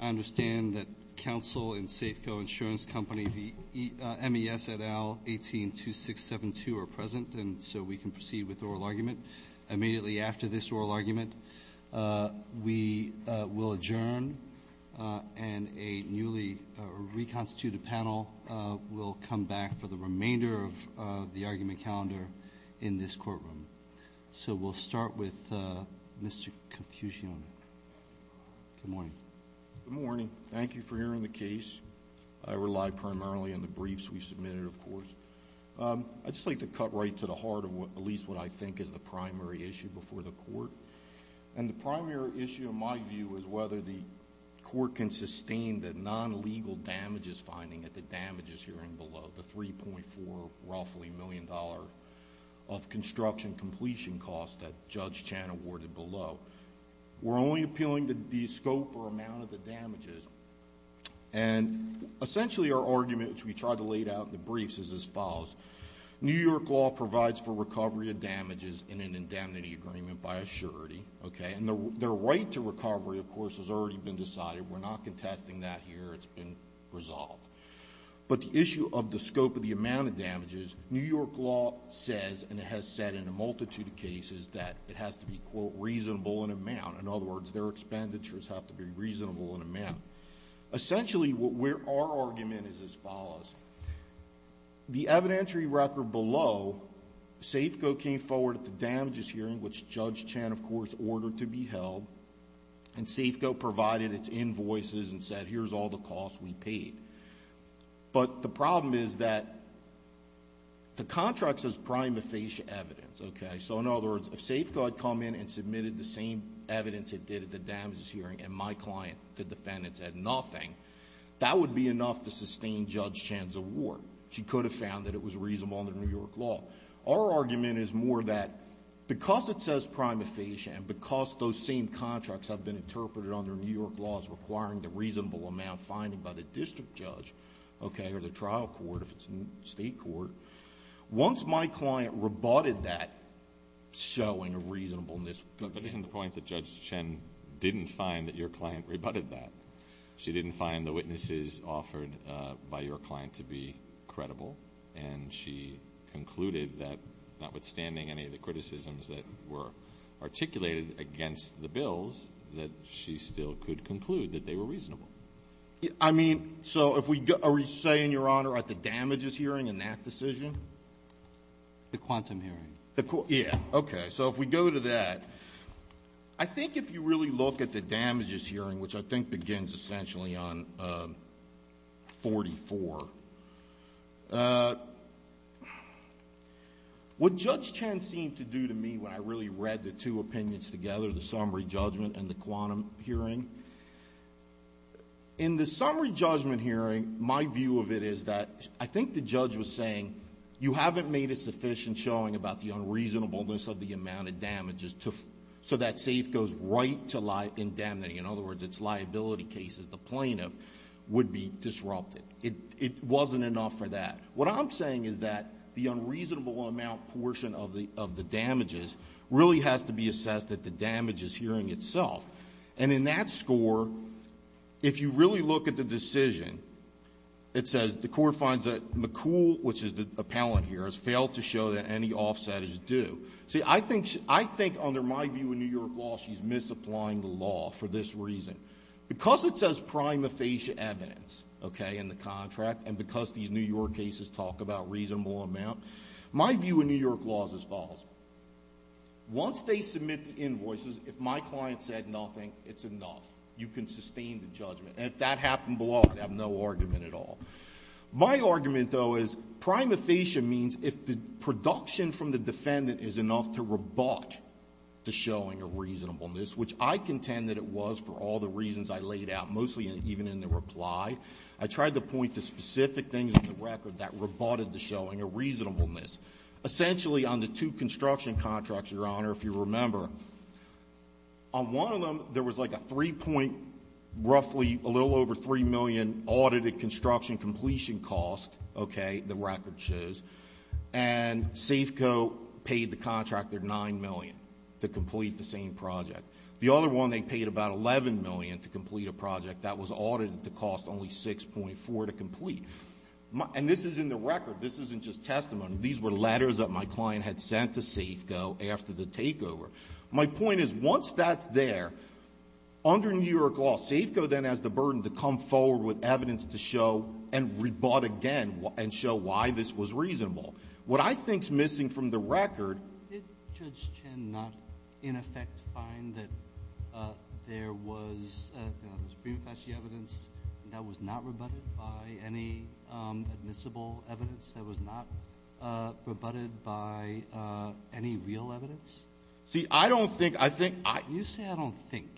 I understand that counsel in Safeco Insurance Company v. M.E.S. et al. 182672 are present and so we can proceed with the oral argument. Immediately after this oral argument, we will adjourn and a newly reconstituted panel will come back for the remainder of the argument calendar in this courtroom. So we'll start with Mr. Confucione. Good morning. Good morning. Thank you for hearing the case. I rely primarily on the briefs we submitted, of course. I'd just like to cut right to the heart of what at least what I think is the primary issue before the court and the primary issue of my view is whether the court can sustain the non-legal damages finding at the damages hearing below the $3.4 roughly million dollar of damages. We're only appealing the scope or amount of the damages and essentially our argument, which we tried to laid out in the briefs, is as follows. New York law provides for recovery of damages in an indemnity agreement by a surety, okay, and their right to recovery, of course, has already been decided. We're not contesting that here. It's been resolved. But the issue of the scope of the amount of damages, New York law says, and it has said in a multitude of cases, that it has to be, quote, reasonable in amount. In other words, their expenditures have to be reasonable in amount. Essentially, our argument is as follows. The evidentiary record below, SAFCO came forward at the damages hearing, which Judge Chan, of course, ordered to be held, and SAFCO provided its invoices and said, here's all the costs we paid. But the problem is that the contract says prima facie evidence, okay? So in other words, if SAFCO had come in and submitted the same evidence it did at the damages hearing and my client, the defendant, said nothing, that would be enough to sustain Judge Chan's award. She could have found that it was reasonable under New York law. Our argument is more that because it says prima facie and because those same contracts have been interpreted under New York law as requiring the reasonable amount fined by the district judge, okay, or the trial court, if it's a state court, once my client rebutted that, showing a reasonableness. But isn't the point that Judge Chan didn't find that your client rebutted that? She didn't find the witnesses offered by your client to be credible, and she concluded that, notwithstanding any of the criticisms that were articulated against the bills, that she still could conclude that they were reasonable. I mean, so if we go – are we saying, Your Honor, at the damages hearing in that decision? The quantum hearing. The – yeah, okay. So if we go to that, I think if you really look at the damages hearing, which I think begins essentially on 44, what Judge Chan seemed to do to me when I really read the two opinions together, the summary judgment and the quantum hearing, in the summary judgment hearing, my view of it is that I think the judge was saying you haven't made a sufficient showing about the unreasonableness of the amount of damages to – so that safe goes right to indemnity. In other words, it's liability cases the plaintiff would be disrupted. It wasn't enough for that. What I'm saying is that the unreasonable amount portion of the damages really has to be assessed at the damages hearing itself. And in that score, if you really look at the decision, it says the court finds that McCool, which is the appellant here, has failed to show that any offset is due. See, I think – I think under my view in New York law, she's misapplying the law for this reason. Because it says prima facie evidence, okay, in the contract, and because these New York cases talk about reasonable amount, my view in New York law is as follows. Once they submit the invoices, if my client said nothing, it's enough. You can sustain the judgment. And if that happened below, I'd have no argument at all. My argument, though, is prima facie means if the production from the defendant is enough to rebut the showing of reasonableness, which I contend that it was for all the reasons I laid out, mostly even in the reply. I tried to point to specific things in the record that rebutted the showing of reasonableness. Essentially, on the two construction contracts, Your Honor, if you remember, on one of them, there was like a three-point – roughly a little over $3 million audited construction completion cost, okay, the record shows. And Safeco paid the contractor $9 million to complete the same project. The other one, they paid about $11 million to complete a project that was audited to cost only $6.4 million to complete. And this is in the record. This isn't just testimony. These were letters that my Under New York law, Safeco then has the burden to come forward with evidence to show and rebut again and show why this was reasonable. What I think's missing from the record – Did Judge Chen not, in effect, find that there was, you know, the prima facie evidence that was not rebutted by any admissible evidence, that was not rebutted by any real evidence? See, I don't think – I think – You say, I don't think.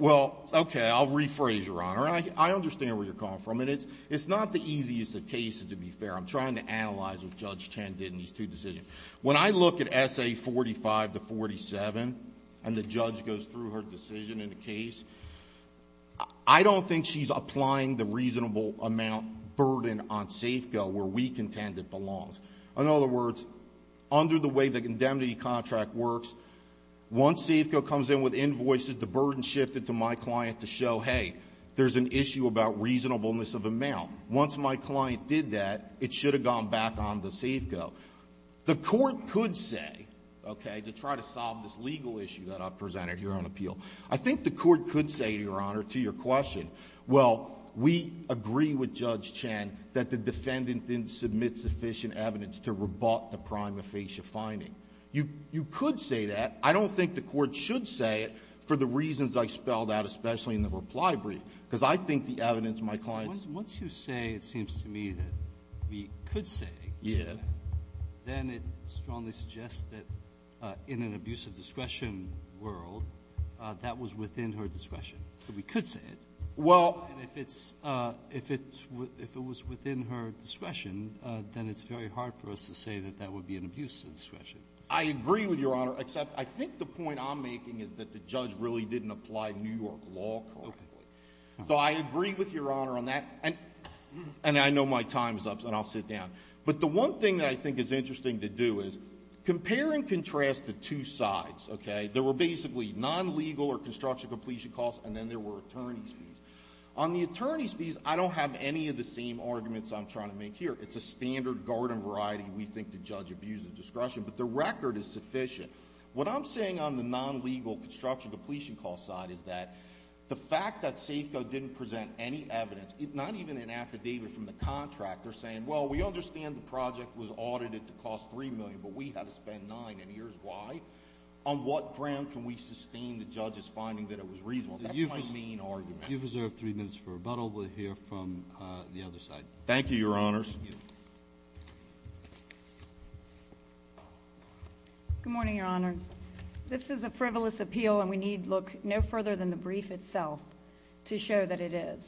Well, okay, I'll rephrase, Your Honor. I understand where you're calling from. And it's not the easiest of cases, to be fair. I'm trying to analyze what Judge Chen did in these two decisions. When I look at S.A. 45 to 47, and the judge goes through her decision in the case, I don't think she's applying the reasonable amount burden on Safeco where we contend it belongs. In other words, under the way the indemnity contract works, once Safeco comes in with invoices, the burden shifted to my client to show, hey, there's an issue about reasonableness of amount. Once my client did that, it should have gone back on to Safeco. The Court could say, okay, to try to solve this legal issue that I've presented here on appeal, I think the Court could say, Your Honor, to your question, well, we agree with Judge Chen that the defendant didn't submit sufficient evidence to rebut the prima facie finding. You could say that. I don't think the Court should say it for the reasons I spelled out, especially in the reply brief, because I think the evidence my client ---- Once you say, it seems to me, that we could say it, then it strongly suggests that in an abuse of discretion world, that was within her discretion. So we could say it. Well ---- And if it's — if it was within her discretion, then it's very hard for us to say that that would be an abuse of discretion. I agree with Your Honor, except I think the point I'm making is that the judge really didn't apply New York law correctly. Okay. So I agree with Your Honor on that, and I know my time is up, so I'll sit down. But the one thing that I think is interesting to do is compare and contrast the two sides, okay? There were basically non-legal or construction completion costs, and then there were attorney's fees. On the attorney's fees, I don't have any of the same arguments I'm trying to make here. It's a standard garden variety we think the judge abused of discretion, but the record is sufficient. What I'm saying on the non-legal construction depletion cost side is that the fact that Safeco didn't present any evidence, not even an affidavit from the contractor saying, well, we understand the project was audited to cost $3 million, but we had to spend $9 million, and here's why. On what ground can we sustain the judge's finding that it was reasonable? That's my main argument. You've reserved three minutes for rebuttal. We'll hear from the other side. Thank you, Your Honors. Good morning, Your Honors. This is a frivolous appeal, and we need look no further than the brief itself to show that it is.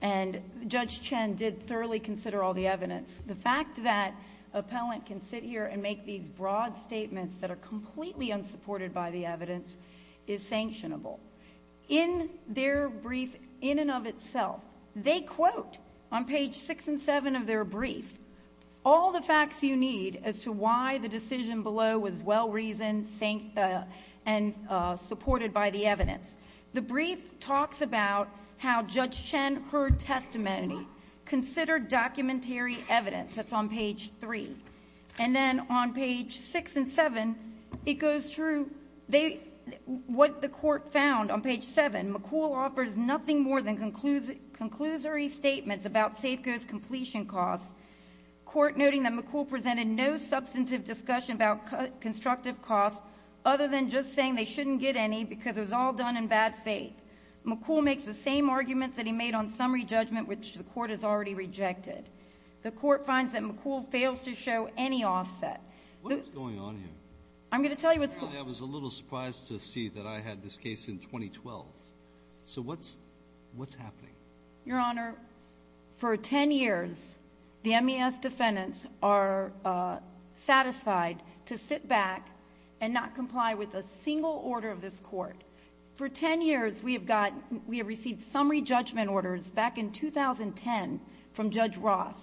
And Judge Chen did thoroughly consider all the evidence. The fact that an appellant can sit here and make these broad statements that are completely unsupported by the evidence is sanctionable. In their brief in and of itself, they quote, on page 6 and 7 of their brief, all the facts you need as to why the decision below was well-reasoned and supported by the evidence. The brief talks about how Judge Chen heard testimony, considered documentary evidence. That's on page 3. And then on page 6 and 7, it goes through what the Court found on page 7. McCool offers nothing more than conclusory statements about Safeco's completion costs. Court noting that McCool presented no substantive discussion about constructive costs other than just saying they shouldn't get any because it was all done in bad faith. McCool makes the same arguments that he made on summary judgment, which the Court has already rejected. The Court finds that McCool fails to show any offset. What is going on here? I'm going to tell you what's going on. Your Honor, for 10 years, the MES defendants are satisfied to sit back and not comply with a single order of this Court. For 10 years, we have received summary judgment orders back in 2010 from Judge Ross,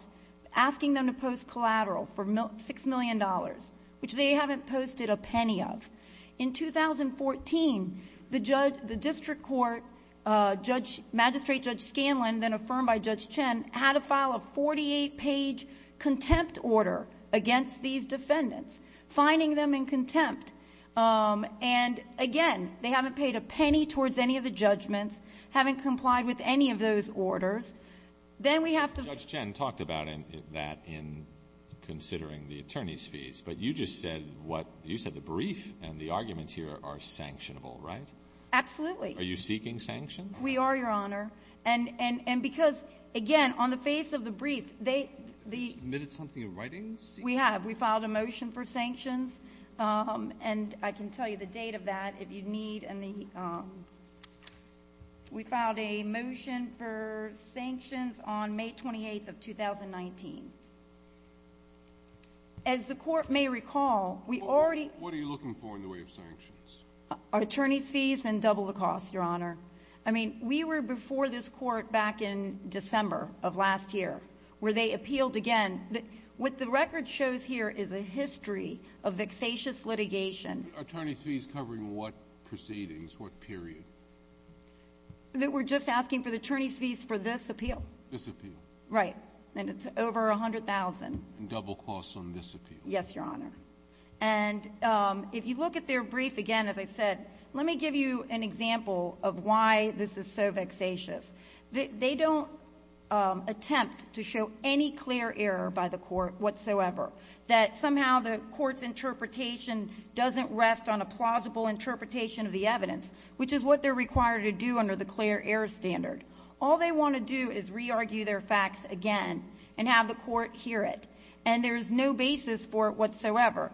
asking them to post collateral for $6 million, which they haven't posted a penny of. In 2014, the district court magistrate, Judge Scanlon, then affirmed by Judge Chen, had to file a 48-page contempt order against these defendants, fining them in contempt. And again, they haven't paid a penny towards any of the judgments, haven't complied with any of those orders. Judge Chen talked about that in considering the attorneys' fees, but you just said the brief and the arguments here are sanctionable, right? Absolutely. Are you seeking sanctions? We are, Your Honor. And because, again, on the face of the brief, they — Admitted something in writing? We have. We filed a motion for sanctions. And I can tell you the date of that, if you need. And we filed a motion for sanctions on May 28th of 2019. As the Court may recall, we already — What are you looking for in the way of sanctions? Our attorneys' fees and double the cost, Your Honor. I mean, we were before this Court back in December of last year, where they appealed again. What the record shows here is a history of vexatious litigation — Attorneys' fees covering what proceedings, what period? We're just asking for the attorneys' fees for this appeal. This appeal? Right. And it's over $100,000. Double costs on this appeal? Yes, Your Honor. And if you look at their brief, again, as I said, let me give you an example of why this is so vexatious. They don't attempt to show any clear error by the Court whatsoever, that somehow the Court's interpretation doesn't rest on a plausible interpretation of the evidence, which is what they're required to do under the clear error standard. All they want to do is re-argue their facts again and have the Court hear it. And there's no basis for it whatsoever.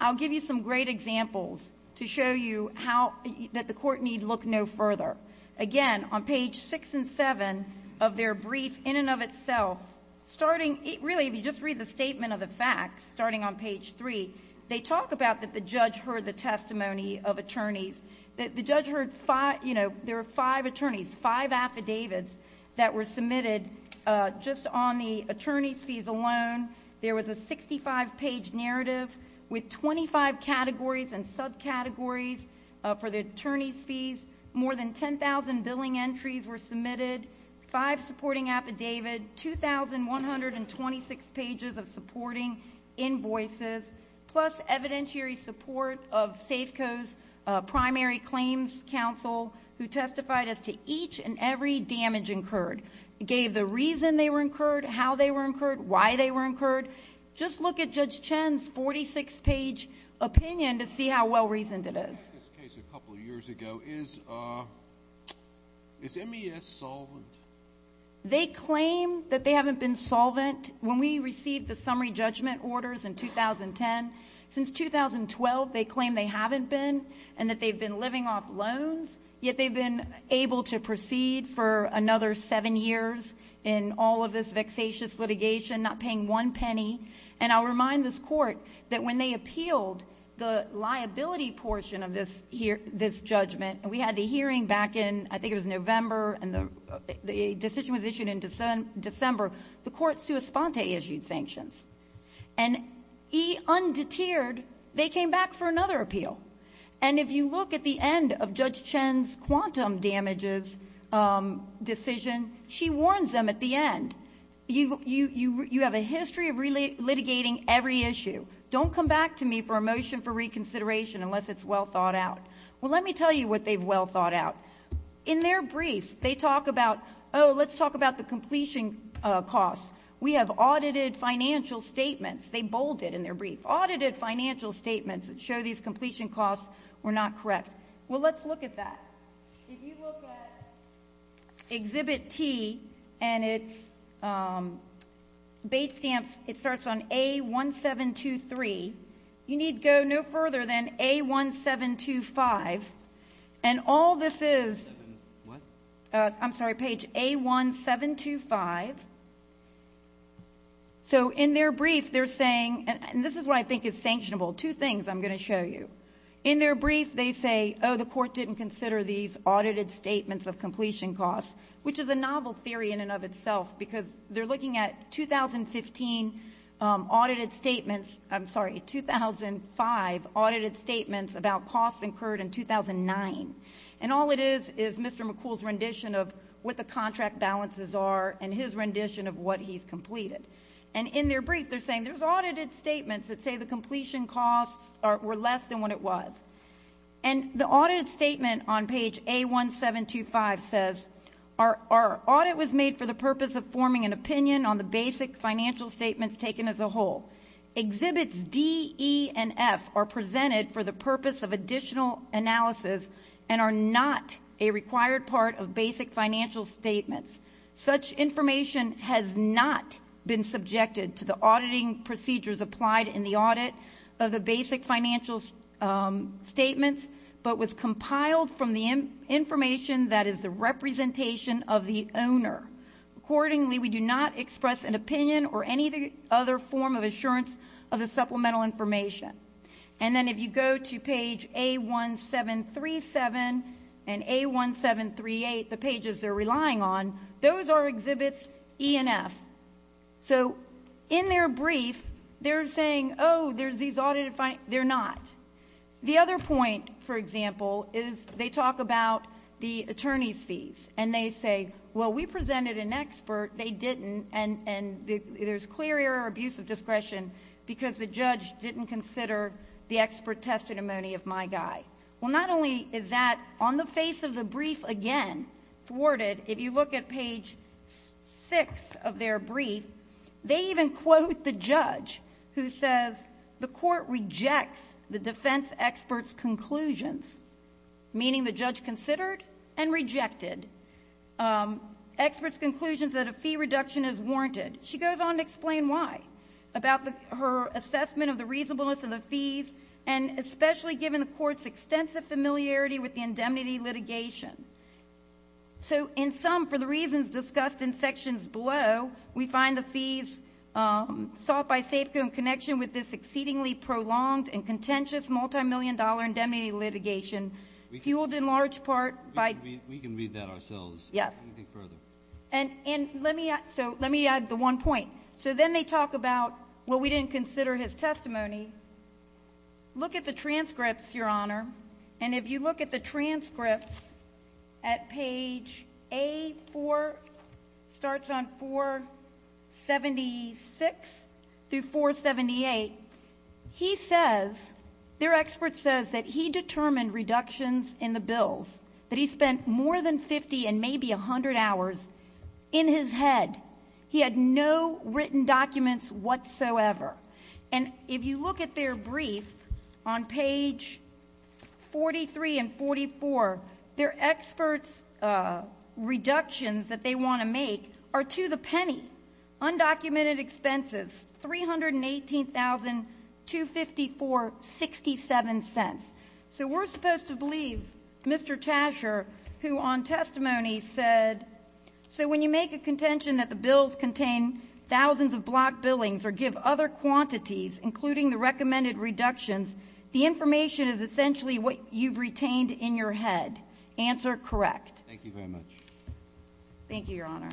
I'll give you some great examples to show you how — that the Court need look no further. Again, on page 6 and 7 of their brief, in and of itself, starting — really, if you just read the statement of the facts, starting on page 3, they talk about that the judge heard the testimony of attorneys, that the judge heard five — you know, there were five attorneys, five affidavits that were known. There was a 65-page narrative with 25 categories and subcategories for the attorneys' fees. More than 10,000 billing entries were submitted, five supporting affidavit, 2,126 pages of supporting invoices, plus evidentiary support of Safeco's primary claims counsel who testified as to each and every damage incurred, gave the reason they were incurred, how they were incurred, why they were incurred. Just look at Judge Chen's 46-page opinion to see how well-reasoned it is. In this case a couple of years ago, is MES solvent? They claim that they haven't been solvent. When we received the summary judgment orders in 2010, since 2012, they claim they haven't been and that they've been living off loans, yet they've been able to proceed for another seven years in all of this vexatious litigation, not paying one penny. And I'll remind this Court that when they appealed the liability portion of this judgment — and we had the hearing back in, I think it was November, and the decision was issued in December — the court sua sponte issued sanctions. And undeterred, they came back for another appeal. And if you look at the end of Judge Chen's quantum damages decision, she warns them at the end, you have a history of litigating every issue. Don't come back to me for a motion for reconsideration unless it's well thought out. Well, let me tell you what they've well thought out. In their brief, they talk about, oh, let's talk about the completion costs. We have audited financial statements. They show these completion costs were not correct. Well, let's look at that. If you look at Exhibit T and its base stamps, it starts on A1723. You need go no further than A1725. And all this is — I'm sorry, page A1725. So in their brief, they're saying — and this is what I think is sanctionable. Two things I'm going to show you. In their brief, they say, oh, the court didn't consider these audited statements of completion costs, which is a novel theory in and of itself because they're looking at 2015 audited statements — I'm sorry, 2005 audited statements about costs incurred in 2009. And all it is is Mr. McCool's rendition of what the contract balances are and his rendition of what he's completed. And in their brief, they're saying there's audited statements that say the completion costs were less than what it was. And the audited statement on page A1725 says, our audit was made for the purpose of forming an opinion on the basic financial statements taken as a whole. Exhibits D, E, and F are presented for the purpose of additional analysis and are not a required part of basic financial statements. Such information has not been subjected to the auditing procedures applied in the audit of the basic financial statements, but was compiled from the information that is the representation of the owner. Accordingly, we do not express an opinion or any other form of assurance of the supplemental information. And then if you go to page A1737 and A1738, the pages they're relying on, those are exhibits E and F. So in their brief, they're saying, oh, there's these audited — they're not. The other point, for example, is they talk about the attorney's fees. And they say, well, we presented an expert. They didn't. And there's clear error or abuse of discretion because the judge didn't consider the expert testimony of my guy. Well, not only is that on the face of the brief again thwarted, if you look at page 6 of their brief, they even quote the judge who says the court rejects the defense expert's conclusions, meaning the judge considered and rejected expert's conclusions that a fee reduction is warranted. She goes on to explain why, about her assessment of the reasonableness of the fees, and especially given the court's extensive familiarity with the indemnity litigation. So in sum, for the reasons discussed in sections below, we find the fees sought by Safeco in connection with this exceedingly prolonged and contentious multimillion-dollar indemnity litigation, fueled in large part by — We can read that ourselves. Anything further? And let me add the one point. So then they talk about, well, we didn't consider his testimony. Look at the transcripts, Your Honor. And if you look at the transcripts at page A4, starts on 476 through 478, he says — their expert says that he determined reductions in the hours in his head. He had no written documents whatsoever. And if you look at their brief on page 43 and 44, their expert's reductions that they want to make are to the penny, undocumented expenses, $318,254.67. So we're supposed to believe Mr. Tasher, who on testimony said that he determined reductions in the hours in his head. So when you make a contention that the bills contain thousands of block billings or give other quantities, including the recommended reductions, the information is essentially what you've retained in your head. Answer, correct. Thank you very much. Thank you, Your Honor.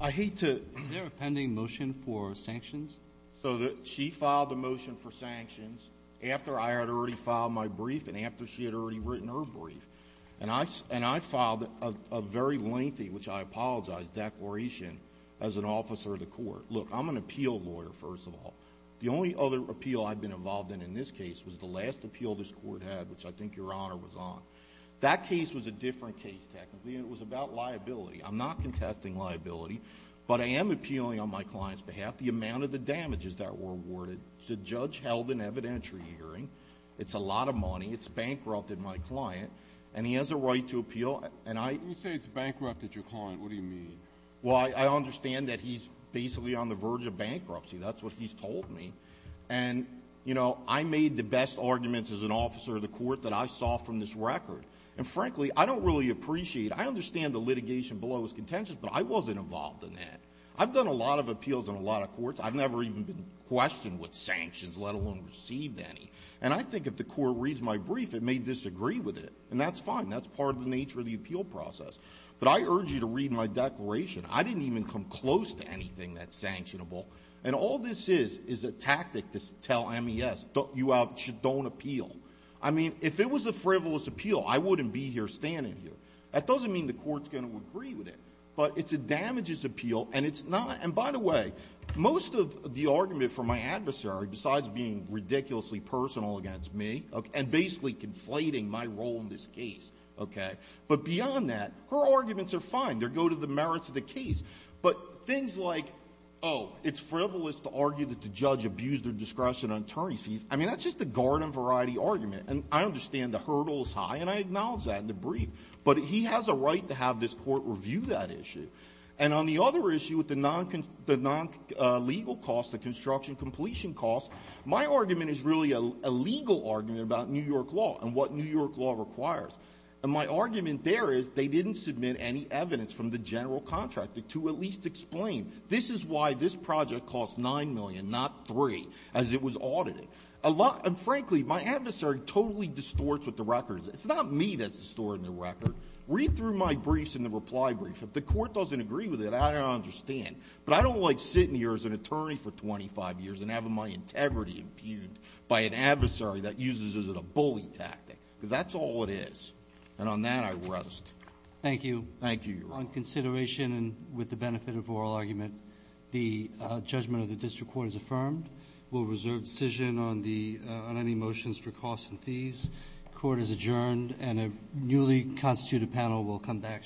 I hate to — Is there a pending motion for sanctions? So she filed a motion for sanctions after I had already filed my brief and after she had already written her brief. And I filed a very lengthy, which I apologize, declaration as an officer of the court. Look, I'm an appeal lawyer, first of all. The only other appeal I've been involved in in this case was the last appeal this Court had, which I think Your Honor was on. That case was a different case, technically, and it was about liability. I'm not contesting liability, but I am appealing on my client's behalf the amount of the damages that were awarded. The judge held an evidentiary hearing. It's a lot of money. It's bankrupted my client. And he has a right to appeal. And I — When you say it's bankrupted your client, what do you mean? Well, I understand that he's basically on the verge of bankruptcy. That's what he's told me. And, you know, I made the best arguments as an officer of the court that I saw from this record. And, frankly, I don't really appreciate — I understand the litigation below his contention, but I wasn't involved in that. I've done a lot of appeals and a lot of courts. I've never even been questioned with sanctions, let alone received any. And I think if the court reads my brief, it may disagree with it. And that's fine. That's part of the nature of the appeal process. But I urge you to read my declaration. I didn't even come close to anything that's sanctionable. And all this is, is a tactic to tell MES, don't — you have — don't appeal. I mean, if it was a frivolous appeal, I wouldn't be here standing here. That doesn't mean the court's going to agree with it. But it's a damages appeal, and it's not — and, by the way, most of the argument from my adversary, besides being ridiculously personal against me and basically conflating my role in this case, OK — but beyond that, her arguments are fine. They go to the merits of the case. But things like, oh, it's frivolous to argue that the judge abused her discretion on attorney's fees, I mean, that's just a garden-variety argument. And I understand the hurdle is high, and I acknowledge that in the brief. But he has a right to have this court review that issue. And on the other issue with the non-construction — the non-legal cost, the construction completion cost, my argument is really a legal argument about New York law and what New York law requires. And my argument there is, they didn't submit any evidence from the general contractor to at least explain, this is why this project cost $9 million, not $3, as it was audited. A lot — and, frankly, my adversary totally distorts what the record is. It's not me that's distorting the record. Read through my briefs in the reply brief. If the court doesn't agree with it, I don't understand. But I don't like sitting here as an attorney for 25 years and having my integrity impugned by an adversary that uses it as a bully tactic, because that's all it is. And on that, I rest. Thank you. Thank you, Your Honor. On consideration and with the benefit of oral argument, the judgment of the district court is affirmed. We'll reserve decision on the — on any motions for costs and fees. Court is adjourned, and a newly constituted panel will come back shortly.